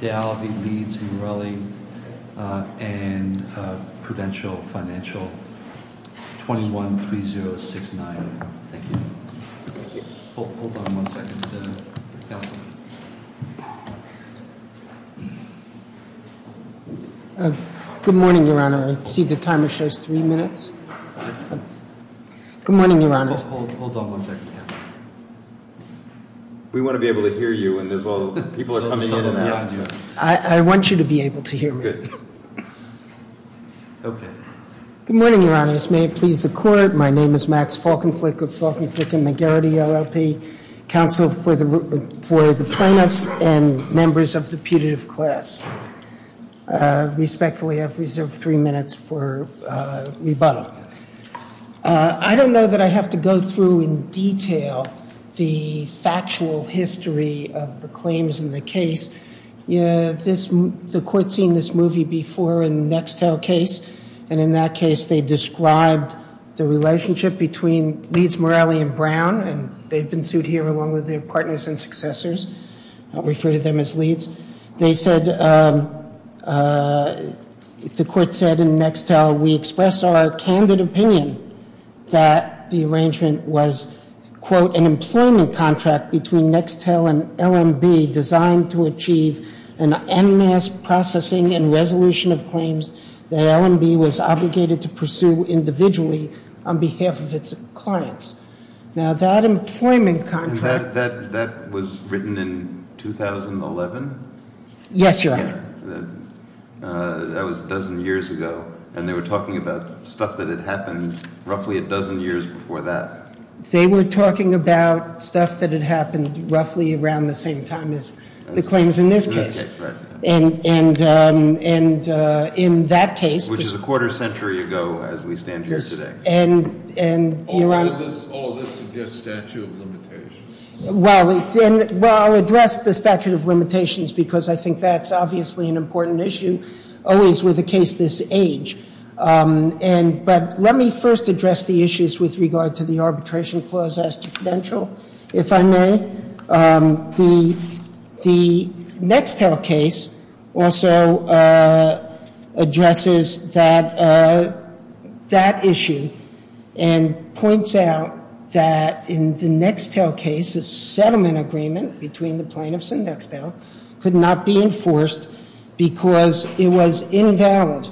D'Alevi, Leeds, Morelli, and Prudential Financial, 21-3069. Thank you. Thank you. Hold on one second. Counselor. Good morning, Your Honor. I see the timer shows three minutes. Good morning, Your Honor. Hold on one second, Counselor. We want to be able to hear you when there's all the people are coming in and out. I want you to be able to hear me. Good. Good morning, Your Honors. May it please the Court. My name is Max Falkenflik of Falkenflik and McGarrity LLP, Counsel for the Plaintiffs and Members of the Putative Class. Respectfully, I've reserved three minutes for rebuttal. I don't know that I have to go through in detail the factual history of the claims in the case. The Court's seen this movie before in the Nextel case. And in that case, they described the relationship between Leeds, Morelli, and Brown. And they've been sued here along with their partners and successors. I'll refer to them as Leeds. They said, the Court said in Nextel, we express our candid opinion that the arrangement was, quote, an employment contract between Nextel and LMB designed to achieve an en masse processing and resolution of claims that LMB was obligated to pursue individually on behalf of its clients. Now, that employment contract. That was written in 2011? Yes, Your Honor. That was a dozen years ago. And they were talking about stuff that had happened roughly a dozen years before that. They were talking about stuff that had happened roughly around the same time as the claims in this case. In this case, right. And in that case. Which is a quarter century ago as we stand here today. And, Your Honor. All of this is just statute of limitations. Well, I'll address the statute of limitations because I think that's obviously an important issue. Always with a case this age. But let me first address the issues with regard to the arbitration clause as to credential, if I may. The Nextel case also addresses that issue and points out that in the Nextel case, the settlement agreement between the plaintiffs and Nextel could not be enforced because it was invalid.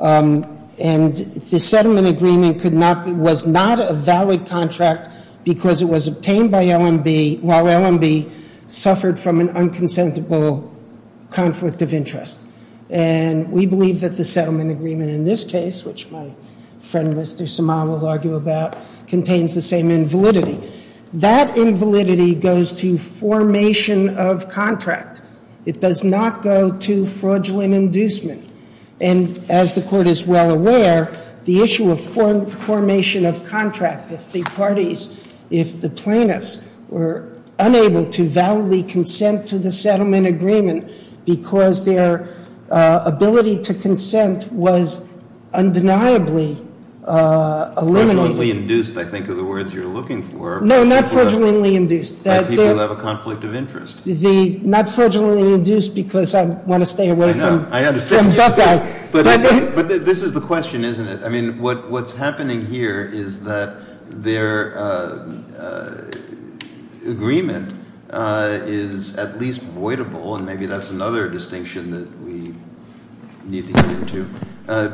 And the settlement agreement was not a valid contract because it was obtained by LMB, while LMB suffered from an unconsensual conflict of interest. And we believe that the settlement agreement in this case, which my friend Mr. Somal will argue about, contains the same invalidity. That invalidity goes to formation of contract. It does not go to fraudulent inducement. And as the court is well aware, the issue of formation of contract, if the parties, if the plaintiffs were unable to validly consent to the settlement agreement because their ability to consent was undeniably eliminated. Fraudulently induced, I think, are the words you're looking for. No, not fraudulently induced. That people have a conflict of interest. Not fraudulently induced because I want to stay away from Buckeye. But this is the question, isn't it? I mean, what's happening here is that their agreement is at least voidable, and maybe that's another distinction that we need to get into,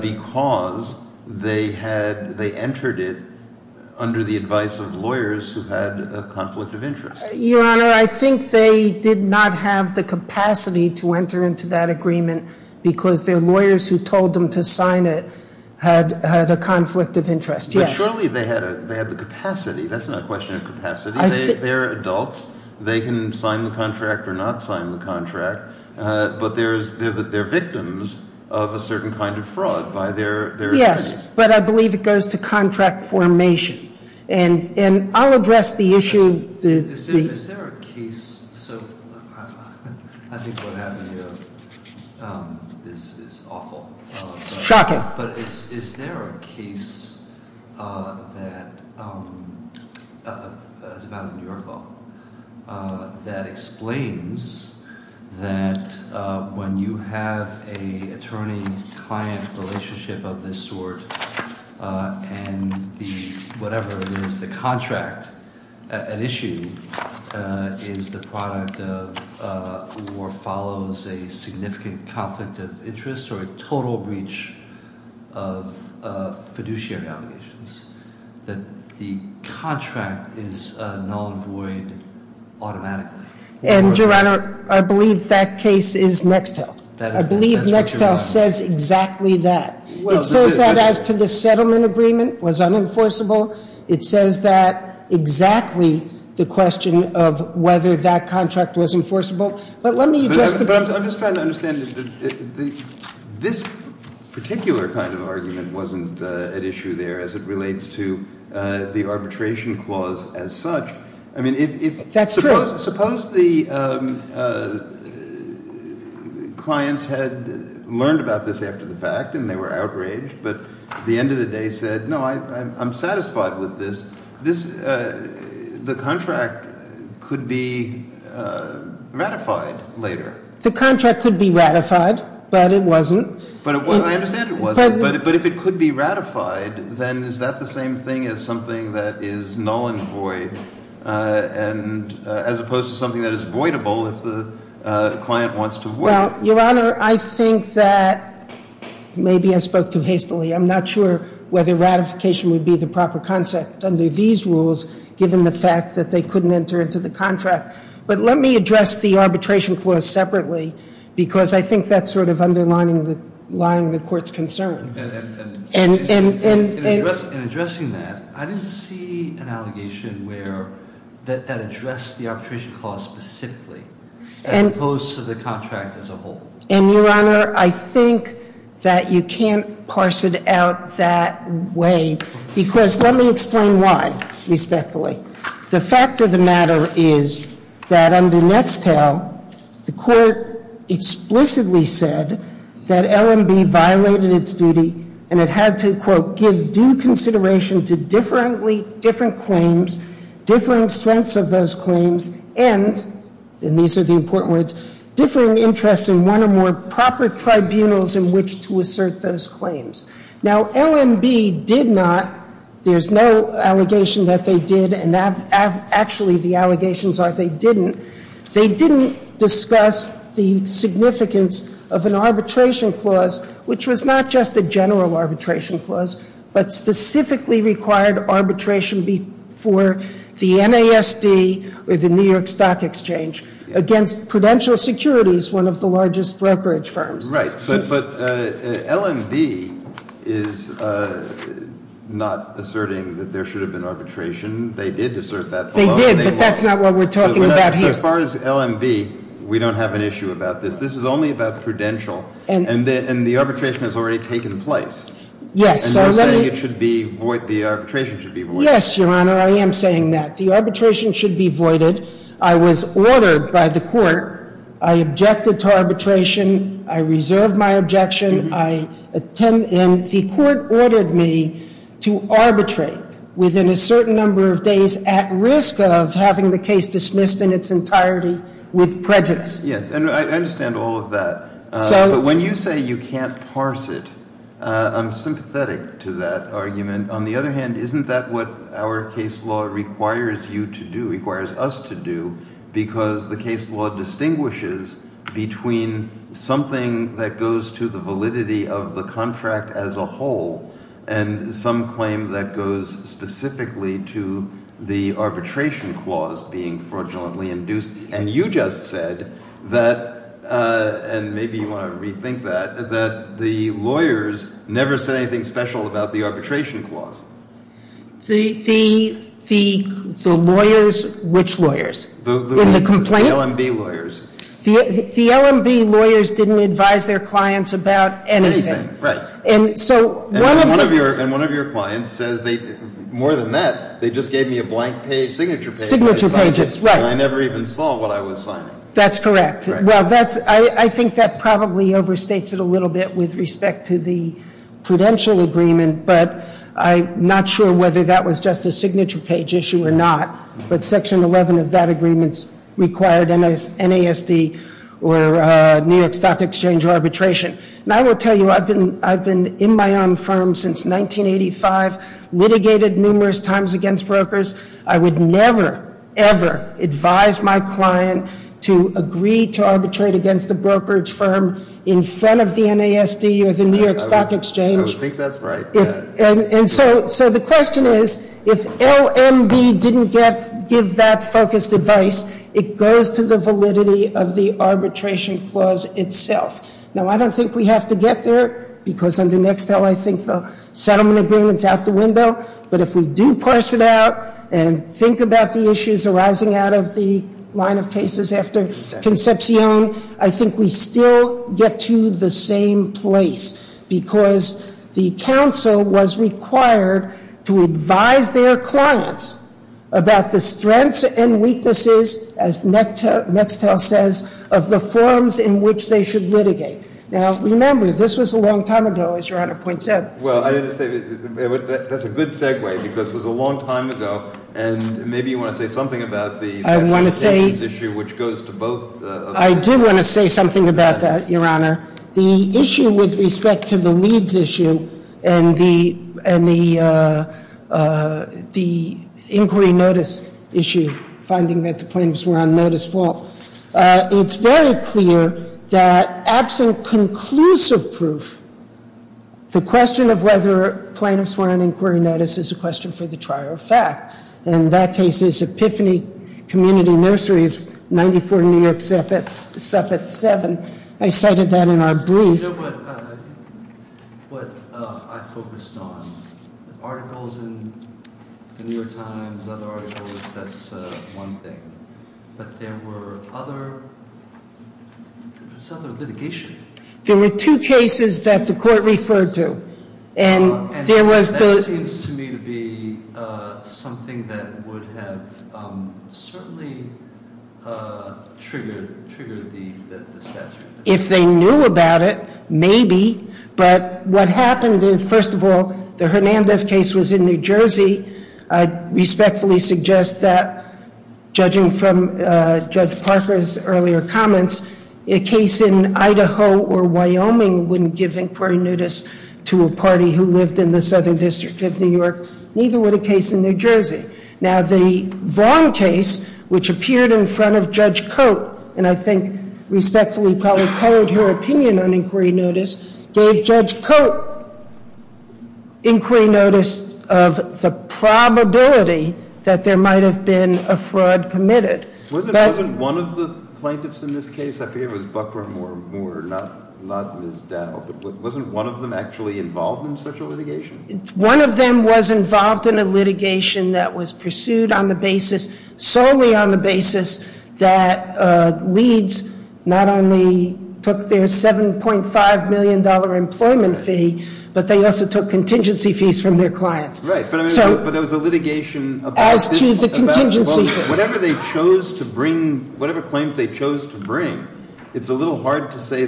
because they entered it under the advice of lawyers who had a conflict of interest. Your Honor, I think they did not have the capacity to enter into that agreement because their lawyers who told them to sign it had a conflict of interest. Yes. But surely they had the capacity. That's not a question of capacity. They're adults. They can sign the contract or not sign the contract, but they're victims of a certain kind of fraud by their attorneys. Yes, but I believe it goes to contract formation. And I'll address the issue. Is there a case, so I think what happened here is awful. It's shocking. But is there a case that is about New York law that explains that when you have an attorney-client relationship of this sort, and whatever it is, the contract, an issue, is the product of or follows a significant conflict of interest or a total breach of fiduciary obligations, that the contract is null and void automatically? And, Your Honor, I believe that case is Nextel. I believe Nextel says exactly that. It says that as to the settlement agreement was unenforceable. It says that exactly the question of whether that contract was enforceable. But let me address the problem. But I'm just trying to understand. This particular kind of argument wasn't at issue there as it relates to the arbitration clause as such. That's true. Suppose the clients had learned about this after the fact and they were outraged, but at the end of the day said, no, I'm satisfied with this. The contract could be ratified later. The contract could be ratified, but it wasn't. I understand it wasn't, but if it could be ratified, then is that the same thing as something that is null and void as opposed to something that is voidable if the client wants to void it? Well, Your Honor, I think that maybe I spoke too hastily. I'm not sure whether ratification would be the proper concept under these rules given the fact that they couldn't enter into the contract. But let me address the arbitration clause separately because I think that's sort of underlying the Court's concern. In addressing that, I didn't see an allegation that addressed the arbitration clause specifically as opposed to the contract as a whole. And, Your Honor, I think that you can't parse it out that way because let me explain why respectfully. The fact of the matter is that under Nextel, the Court explicitly said that LMB violated its duty and it had to, quote, give due consideration to differently different claims, differing strengths of those claims, and, and these are the important words, differing interests in one or more proper tribunals in which to assert those claims. Now, LMB did not, there's no allegation that they did, and actually the allegations are they didn't. They didn't discuss the significance of an arbitration clause, which was not just a general arbitration clause, but specifically required arbitration for the NASD or the New York Stock Exchange. Against Prudential Securities, one of the largest brokerage firms. Right, but LMB is not asserting that there should have been arbitration. They did assert that. They did, but that's not what we're talking about here. So as far as LMB, we don't have an issue about this. This is only about Prudential. And the arbitration has already taken place. Yes, so let me. And you're saying it should be, the arbitration should be void. Yes, Your Honor, I am saying that. The arbitration should be voided. I was ordered by the court. I objected to arbitration. I reserve my objection. I attend, and the court ordered me to arbitrate within a certain number of days at risk of having the case dismissed in its entirety with prejudice. Yes, and I understand all of that. But when you say you can't parse it, I'm sympathetic to that argument. On the other hand, isn't that what our case law requires you to do, requires us to do, because the case law distinguishes between something that goes to the validity of the contract as a whole and some claim that goes specifically to the arbitration clause being fraudulently induced. And you just said that, and maybe you want to rethink that, that the lawyers never said anything special about the arbitration clause. The lawyers, which lawyers? In the complaint? The LMB lawyers. The LMB lawyers didn't advise their clients about anything. Right. And so one of the And one of your clients says they, more than that, they just gave me a blank page, signature page Signature page, that's right. And I never even saw what I was signing. That's correct. I think that probably overstates it a little bit with respect to the prudential agreement, but I'm not sure whether that was just a signature page issue or not. But Section 11 of that agreement required NASD or New York Stock Exchange arbitration. And I will tell you, I've been in my own firm since 1985, litigated numerous times against brokers. I would never, ever advise my client to agree to arbitrate against a brokerage firm in front of the NASD or the New York Stock Exchange. I would think that's right. And so the question is, if LMB didn't give that focused advice, it goes to the validity of the arbitration clause itself. Now, I don't think we have to get there, because under Nextel, I think the settlement agreement's out the window. But if we do parse it out and think about the issues arising out of the line of cases after Concepcion, I think we still get to the same place, because the counsel was required to advise their clients about the strengths and weaknesses, as Nextel says, of the forms in which they should litigate. Now, remember, this was a long time ago, as Your Honor points out. Well, I didn't say that. That's a good segue, because it was a long time ago. And maybe you want to say something about the sanctions issue, which goes to both of them. I do want to say something about that, Your Honor. The issue with respect to the Leeds issue and the inquiry notice issue, finding that the plaintiffs were on notice fault, it's very clear that absent conclusive proof, the question of whether plaintiffs were on inquiry notice is a question for the trier of fact. In that case, it's Epiphany Community Nurseries, 94 New York Suffolk 7. I cited that in our brief. You know what I focused on? Articles in the New York Times, other articles, that's one thing. But there was other litigation. There were two cases that the court referred to. And there was the- And that seems to me to be something that would have certainly triggered the statute. If they knew about it, maybe. But what happened is, first of all, the Hernandez case was in New Jersey. I respectfully suggest that, judging from Judge Parker's earlier comments, a case in Idaho or Wyoming wouldn't give inquiry notice to a party who lived in the Southern District of New York. Neither would a case in New Jersey. Now, the Vaughn case, which appeared in front of Judge Cote, and I think respectfully probably colored her opinion on inquiry notice, gave Judge Cote inquiry notice of the probability that there might have been a fraud committed. Wasn't one of the plaintiffs in this case, I think it was Buckram or Moore, not Ms. Dowd, wasn't one of them actually involved in such a litigation? One of them was involved in a litigation that was pursued on the basis, solely on the basis, that Leeds not only took their $7.5 million employment fee, but they also took contingency fees from their clients. Right, but there was a litigation- As to the contingency fee. Whatever they chose to bring, whatever claims they chose to bring, it's a little hard to say,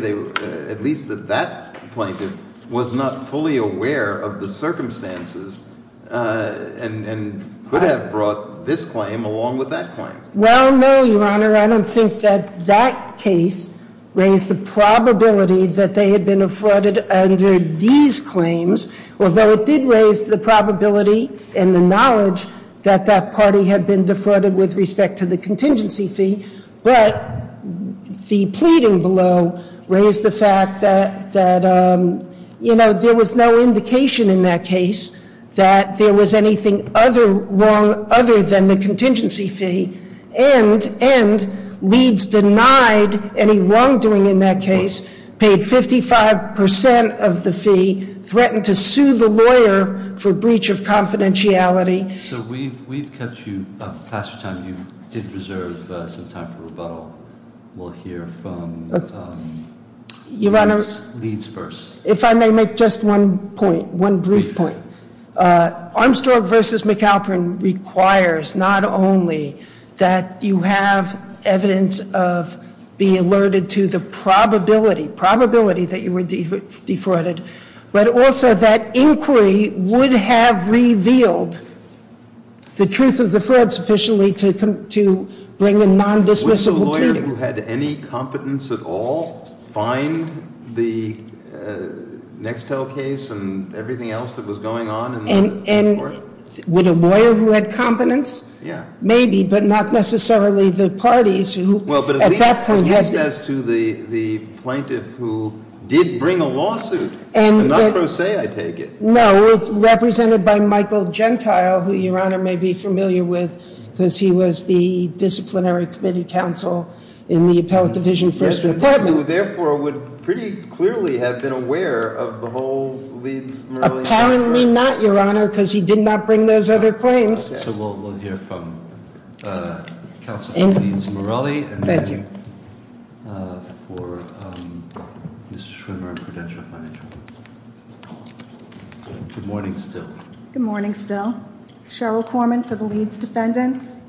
at least that that plaintiff was not fully aware of the circumstances and could have brought this claim along with that claim. Well, no, Your Honor, I don't think that that case raised the probability that they had been affronted under these claims, although it did raise the probability and the knowledge that that party had been defrauded with respect to the contingency fee. But the pleading below raised the fact that, you know, there was no indication in that case that there was anything other than the contingency fee, and Leeds denied any wrongdoing in that case, paid 55% of the fee, threatened to sue the lawyer for breach of confidentiality. So we've kept you, past your time, you did reserve some time for rebuttal. We'll hear from Leeds first. If I may make just one point, one brief point. Armstrong v. McAlpin requires not only that you have evidence of being alerted to the probability, that you were defrauded, but also that inquiry would have revealed the truth of the fraud sufficiently to bring in non-dismissible pleading. Would a lawyer who had any competence at all find the Nextel case and everything else that was going on? And would a lawyer who had competence? Yeah. Maybe, but not necessarily the parties who at that point had. At least as to the plaintiff who did bring a lawsuit. And I'm not going to say I take it. No, it's represented by Michael Gentile, who Your Honor may be familiar with, because he was the disciplinary committee counsel in the Appellate Division First Report. Who therefore would pretty clearly have been aware of the whole Leeds-Morelli. Apparently not, Your Honor, because he did not bring those other claims. So we'll hear from counsel for Leeds-Morelli. Thank you. For Mr. Schwimmer and Prudential Financial. Good morning still. Good morning still. Cheryl Corman for the Leeds defendants.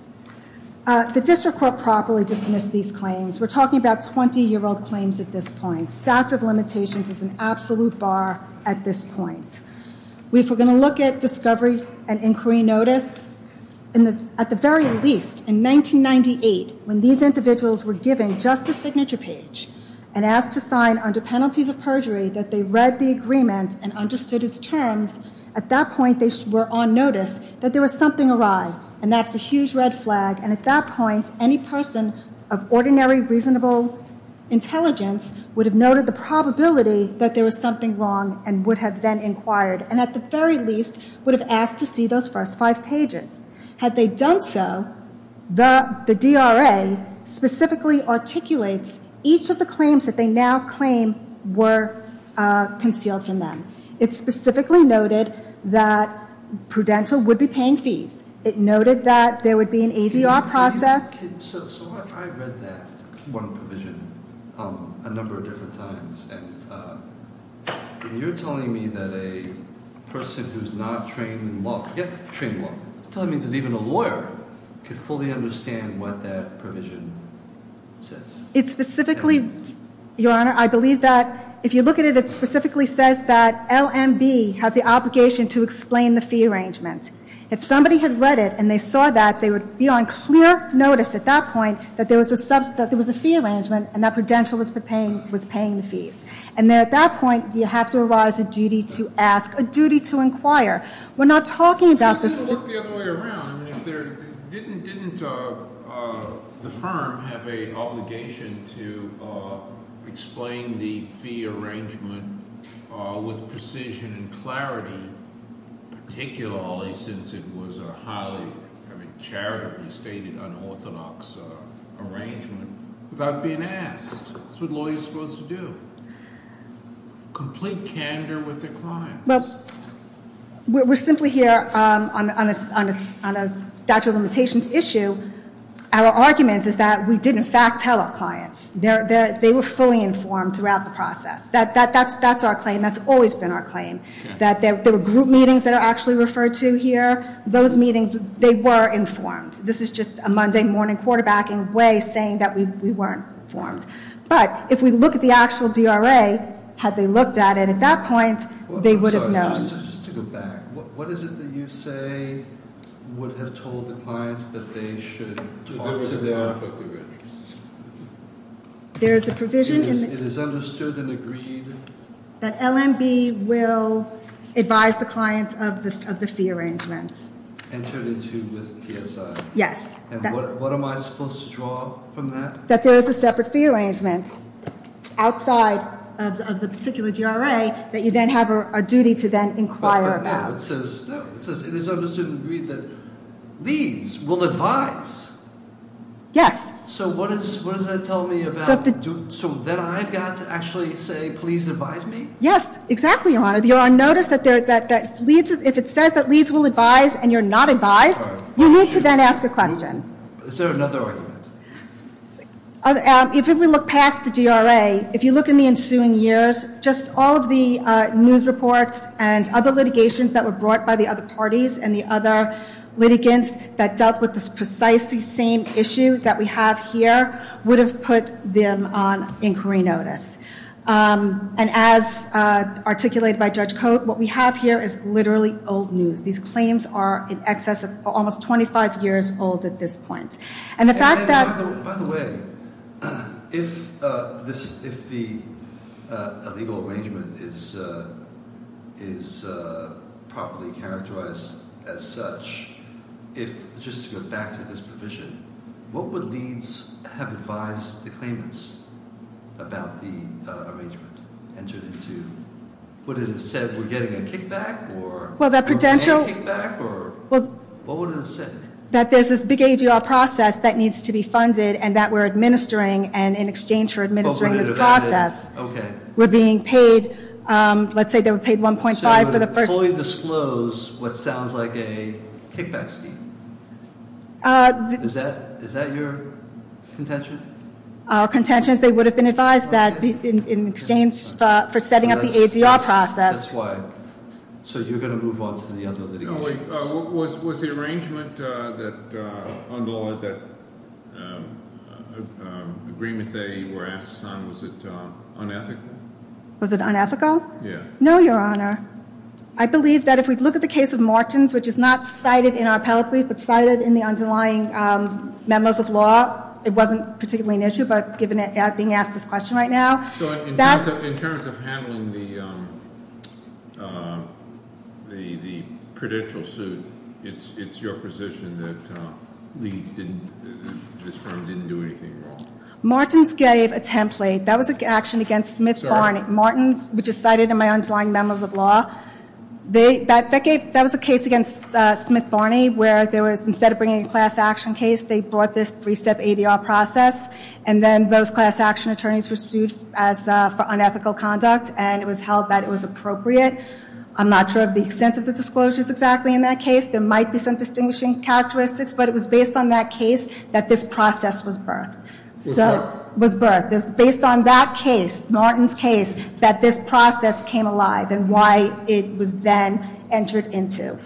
The district court properly dismissed these claims. We're talking about 20-year-old claims at this point. Stats of limitations is an absolute bar at this point. We're going to look at discovery and inquiry notice. At the very least, in 1998, when these individuals were given just a signature page and asked to sign under penalties of perjury that they read the agreement and understood its terms, at that point they were on notice that there was something awry. And that's a huge red flag. And at that point, any person of ordinary reasonable intelligence would have noted the probability that there was something wrong and would have then inquired and at the very least would have asked to see those first five pages. Had they done so, the DRA specifically articulates each of the claims that they now claim were concealed from them. It specifically noted that Prudential would be paying fees. It noted that there would be an ADR process. So I read that one provision a number of different times. And you're telling me that a person who's not trained in law, trained in law, you're telling me that even a lawyer could fully understand what that provision says. It specifically, Your Honor, I believe that if you look at it, it specifically says that LMB has the obligation to explain the fee arrangement. If somebody had read it and they saw that, they would be on clear notice at that point that there was a fee arrangement and that Prudential was paying the fees. And then at that point, you have to arise a duty to ask, a duty to inquire. We're not talking about this- If you look the other way around, didn't the firm have an obligation to explain the fee arrangement with precision and clarity? Particularly since it was a highly, I mean, charitably stated unorthodox arrangement without being asked. That's what lawyers are supposed to do. Complete candor with their clients. Well, we're simply here on a statute of limitations issue. Our argument is that we did in fact tell our clients. They were fully informed throughout the process. That's our claim. That's always been our claim. That there were group meetings that are actually referred to here. Those meetings, they were informed. This is just a Monday morning quarterbacking way saying that we weren't informed. But if we look at the actual DRA, had they looked at it at that point, they would have known. Just to go back, what is it that you say would have told the clients that they should talk to their- There is a provision in the- It is understood and agreed- That LMB will advise the clients of the fee arrangement. Entered into with PSI. Yes. And what am I supposed to draw from that? That there is a separate fee arrangement outside of the particular DRA that you then have a duty to then inquire about. No, it says it is understood and agreed that Leeds will advise. Yes. So what does that tell me about- So that I've got to actually say please advise me? Yes, exactly, Your Honor. You are on notice that if it says that Leeds will advise and you're not advised, you need to then ask a question. Is there another argument? If we look past the DRA, if you look in the ensuing years, just all of the news reports and other litigations that were brought by the other parties and the other litigants that dealt with this precisely same issue that we have here would have put them on inquiry notice. And as articulated by Judge Cote, what we have here is literally old news. These claims are in excess of almost 25 years old at this point. And the fact that- And by the way, if the legal arrangement is properly characterized as such, just to go back to this provision, what would Leeds have advised the claimants about the arrangement entered into? Would it have said we're getting a kickback or- Well, the potential- We're getting a kickback or- Well- What would it have said? That there's this big ADR process that needs to be funded and that we're administering and in exchange for administering this process- Okay. We're being paid, let's say they were paid 1.5 for the first- So it would have fully disclosed what sounds like a kickback scheme? Is that your contention? Our contention is they would have been advised that in exchange for setting up the ADR process. That's why. So you're going to move on to the other dedications? No, wait. Was the arrangement that under the agreement they were asked to sign, was it unethical? Was it unethical? Yeah. No, Your Honor. I believe that if we look at the case of Martins, which is not cited in our appellate brief but cited in the underlying memos of law, it wasn't particularly an issue, but given it being asked this question right now- So in terms of handling the prudential suit, it's your position that this firm didn't do anything wrong? Martins gave a template. That was an action against Smith-Barney. Martins, which is cited in my underlying memos of law, that was a case against Smith-Barney where instead of bringing a class action case, they brought this three-step ADR process, and then those class action attorneys were sued for unethical conduct, and it was held that it was appropriate. I'm not sure of the extent of the disclosures exactly in that case. There might be some distinguishing characteristics, but it was based on that case that this process was birthed. Was birthed. Was birthed. Based on that case, Martins' case, that this process came alive and why it was then entered into.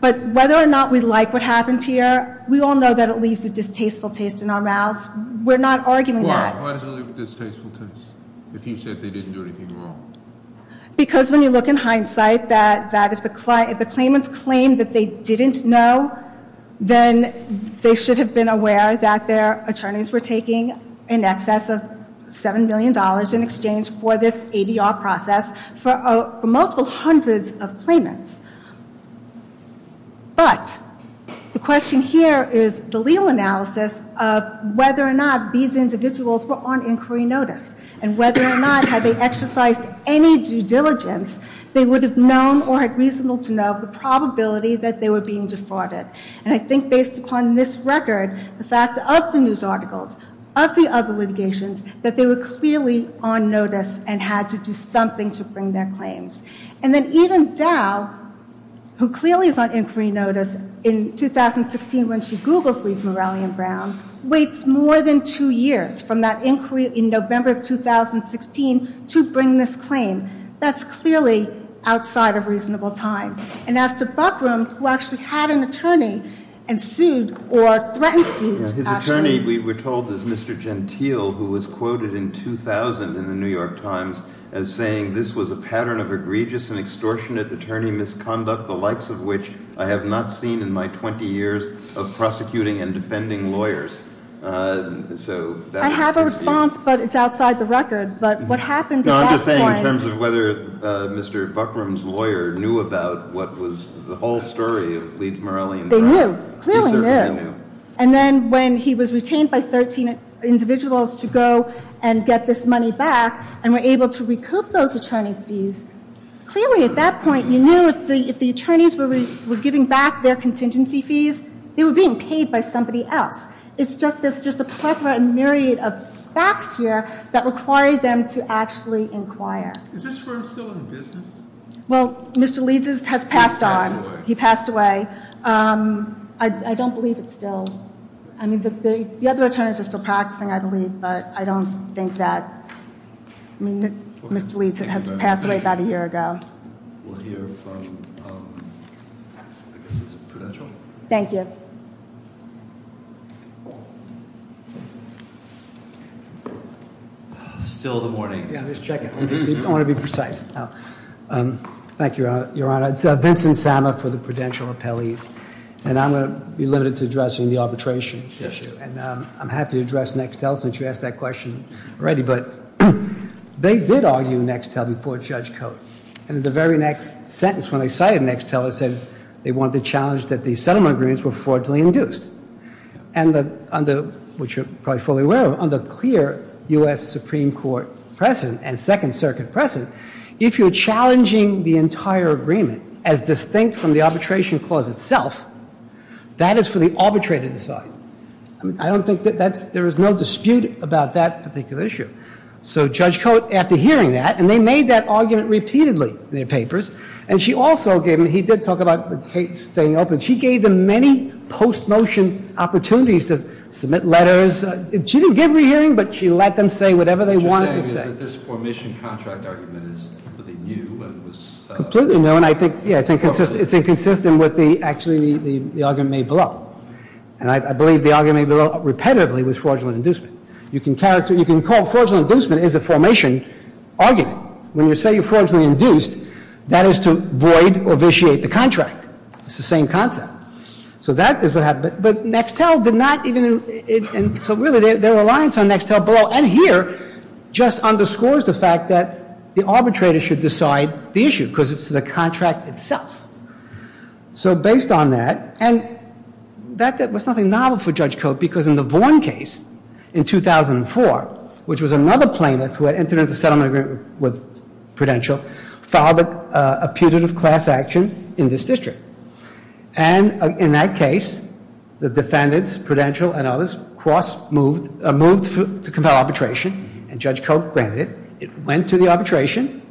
But whether or not we like what happened here, we all know that it leaves a distasteful taste in our mouths. We're not arguing that. Why does it leave a distasteful taste if you said they didn't do anything wrong? Because when you look in hindsight, that if the claimants claimed that they didn't know, then they should have been aware that their attorneys were taking in excess of $7 million in exchange for this ADR process for multiple hundreds of claimants. But the question here is the legal analysis of whether or not these individuals were on inquiry notice and whether or not had they exercised any due diligence, they would have known or had reasonable to know the probability that they were being defrauded. And I think based upon this record, the fact of the news articles, of the other litigations, that they were clearly on notice and had to do something to bring their claims. And then even Dow, who clearly is on inquiry notice in 2016 when she Googles Lee's Moralian Brown, waits more than two years from that inquiry in November of 2016 to bring this claim. That's clearly outside of reasonable time. And as to Buckram, who actually had an attorney and sued or threatened to sue. His attorney, we were told, is Mr. Gentile, who was quoted in 2000 in the New York Times as saying, this was a pattern of egregious and extortionate attorney misconduct, the likes of which I have not seen in my 20 years of prosecuting and defending lawyers. I have a response, but it's outside the record. But what happens at that point. I'm just saying in terms of whether Mr. Buckram's lawyer knew about what was the whole story of Lee's Moralian Brown. They knew. Clearly knew. And then when he was retained by 13 individuals to go and get this money back, and were able to recoup those attorney's fees, clearly at that point you knew if the attorneys were giving back their contingency fees, they were being paid by somebody else. It's just a plethora and myriad of facts here that required them to actually inquire. Is this firm still in business? Well, Mr. Lee's has passed on. He passed away. He passed away. I don't believe it's still. I mean, the other attorneys are still practicing, I believe, but I don't think that. I mean, Mr. Lee has passed away about a year ago. We'll hear from, I guess it's Prudential. Thank you. Still the morning. Yeah, just checking. I want to be precise. Thank you, Your Honor. It's Vincent Sama for the Prudential Appellees. And I'm going to be limited to addressing the arbitration issue. And I'm happy to address Nextel since you asked that question already. But they did argue Nextel before Judge Coates. And in the very next sentence when they cited Nextel, it said they wanted to challenge that the settlement agreements were fraudulently induced. And under, which you're probably fully aware of, under clear U.S. Supreme Court precedent and Second Circuit precedent, if you're challenging the entire agreement as distinct from the arbitration clause itself, that is for the arbitrator to decide. I don't think that that's, there is no dispute about that particular issue. So Judge Coates, after hearing that, and they made that argument repeatedly in their papers, and she also gave them, he did talk about Kate staying open, she gave them many post-motion opportunities to submit letters. She didn't give re-hearing, but she let them say whatever they wanted to say. So this formation contract argument is completely new, and it was- Completely new, and I think, yeah, it's inconsistent with actually the argument made below. And I believe the argument made below repetitively was fraudulent inducement. You can call fraudulent inducement as a formation argument. When you say you're fraudulently induced, that is to void or vitiate the contract. It's the same concept. So that is what happened. But Nextel did not even, and so really their reliance on Nextel below. And here, just underscores the fact that the arbitrator should decide the issue, because it's the contract itself. So based on that, and that was nothing novel for Judge Coates, because in the Vaughn case in 2004, which was another plaintiff who had entered into a settlement agreement with Prudential, filed a putative class action in this district. And in that case, the defendants, Prudential and others, moved to compel arbitration, and Judge Coates granted it. It went to the arbitration,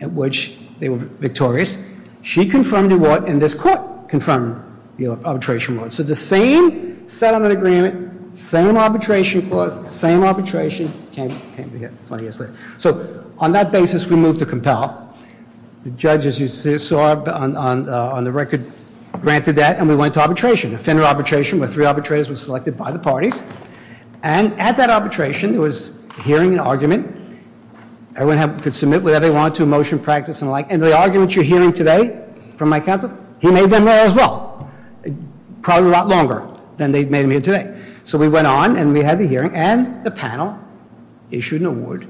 in which they were victorious. She confirmed the award, and this court confirmed the arbitration award. So the same settlement agreement, same arbitration clause, same arbitration, came together 20 years later. So on that basis, we moved to compel. The judge, as you saw on the record, granted that, and we went to arbitration. Defender arbitration, where three arbitrators were selected by the parties. And at that arbitration, there was a hearing and argument. Everyone could submit whatever they wanted to a motion, practice, and the like. And the arguments you're hearing today from my counsel, he made them there as well. Probably a lot longer than they made them here today. So we went on, and we had the hearing, and the panel issued an award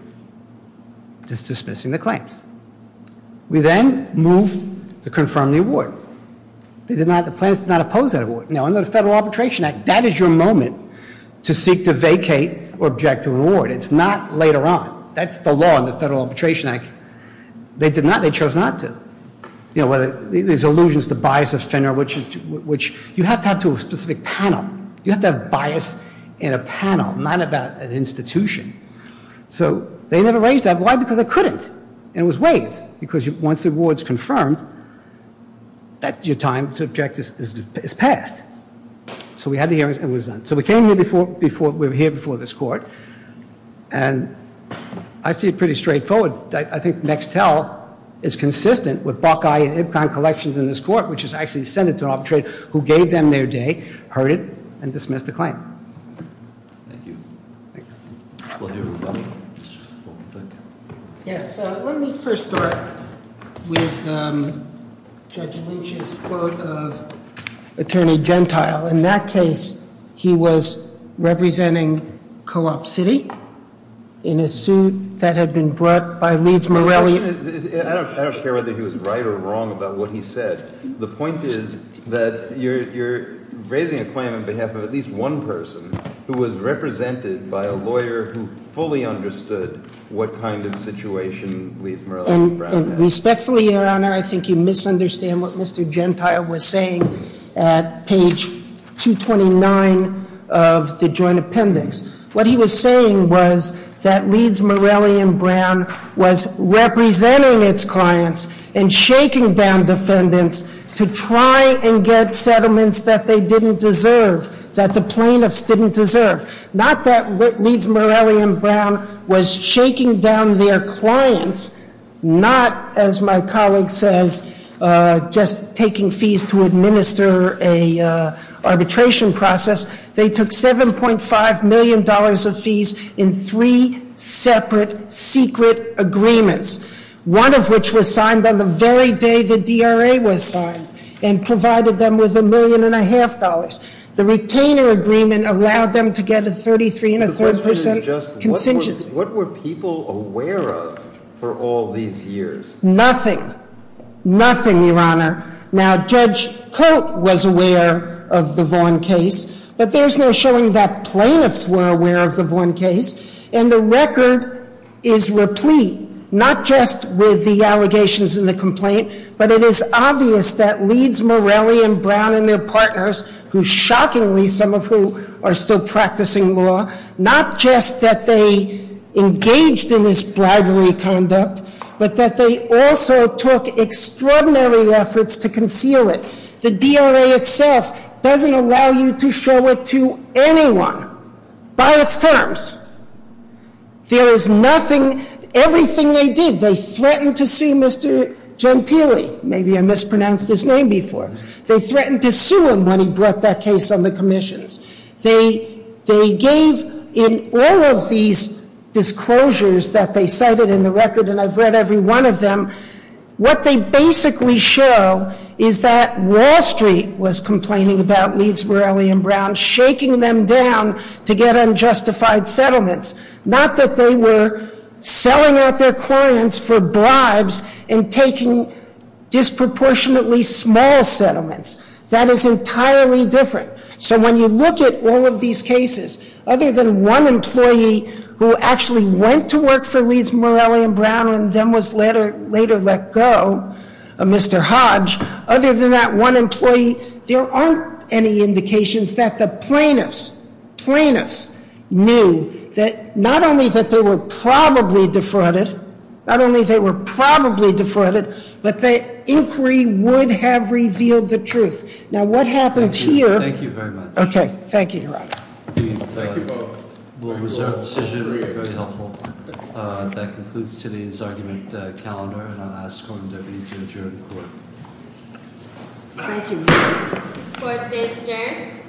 dismissing the claims. We then moved to confirm the award. The plaintiffs did not oppose that award. Now, under the Federal Arbitration Act, that is your moment to seek to vacate or object to an award. It's not later on. That's the law in the Federal Arbitration Act. They did not. They chose not to. There's allusions to bias offender, which you have to have to a specific panel. You have to have bias in a panel, not about an institution. So they never raised that. Why? Because they couldn't. And it was waived. Because once the award's confirmed, that's your time to object is passed. So we had the hearings, and it was done. So we came here before this court, and I see it pretty straightforward. I think Mextel is consistent with Buckeye and Ipcon collections in this court, which has actually sent it to an arbitrator who gave them their day, heard it, and dismissed the claim. Thank you. Thanks. Yes, let me first start with Judge Lynch's quote of Attorney Gentile. In that case, he was representing co-op city in a suit that had been brought by Leeds Morelli. I don't care whether he was right or wrong about what he said. The point is that you're raising a claim on behalf of at least one person who was represented by a lawyer who fully understood what kind of situation Leeds Morelli and Brown had. And respectfully, Your Honor, I think you misunderstand what Mr. Gentile was saying at page 229 of the joint appendix. What he was saying was that Leeds Morelli and Brown was representing its clients and shaking down defendants to try and get settlements that they didn't deserve, that the plaintiffs didn't deserve. Not that Leeds Morelli and Brown was shaking down their clients, not, as my colleague says, just taking fees to administer an arbitration process. They took $7.5 million of fees in three separate secret agreements, one of which was signed on the very day the DRA was signed and provided them with a million and a half dollars. The retainer agreement allowed them to get a 33 and a third percent contingency. What were people aware of for all these years? Nothing. Nothing, Your Honor. Now, Judge Coate was aware of the Vaughn case, but there's no showing that plaintiffs were aware of the Vaughn case. And the record is replete, not just with the allegations and the complaint, but it is obvious that Leeds Morelli and Brown and their partners, who shockingly, some of who are still practicing law, not just that they engaged in this bribery conduct, but that they also took extraordinary efforts to conceal it. The DRA itself doesn't allow you to show it to anyone by its terms. There is nothing, everything they did. They threatened to sue Mr. Gentile. Maybe I mispronounced his name before. They threatened to sue him when he brought that case on the commissions. They gave, in all of these disclosures that they cited in the record, and I've read every one of them, what they basically show is that Wall Street was complaining about Leeds Morelli and Brown, shaking them down to get unjustified settlements, not that they were selling out their clients for bribes and taking disproportionately small settlements. That is entirely different. So when you look at all of these cases, other than one employee who actually went to work for Leeds Morelli and Brown and then was later let go, Mr. Hodge, other than that one employee, there aren't any indications that the plaintiffs knew that not only that they were probably defrauded, not only they were probably defrauded, but that inquiry would have revealed the truth. Now, what happens here- Thank you very much. Okay. Thank you, Your Honor. Thank you both. We'll reserve the decision if that's helpful. That concludes today's argument calendar, and I'll ask the Court and Deputy to adjourn the Court. Thank you. The Court today is adjourned.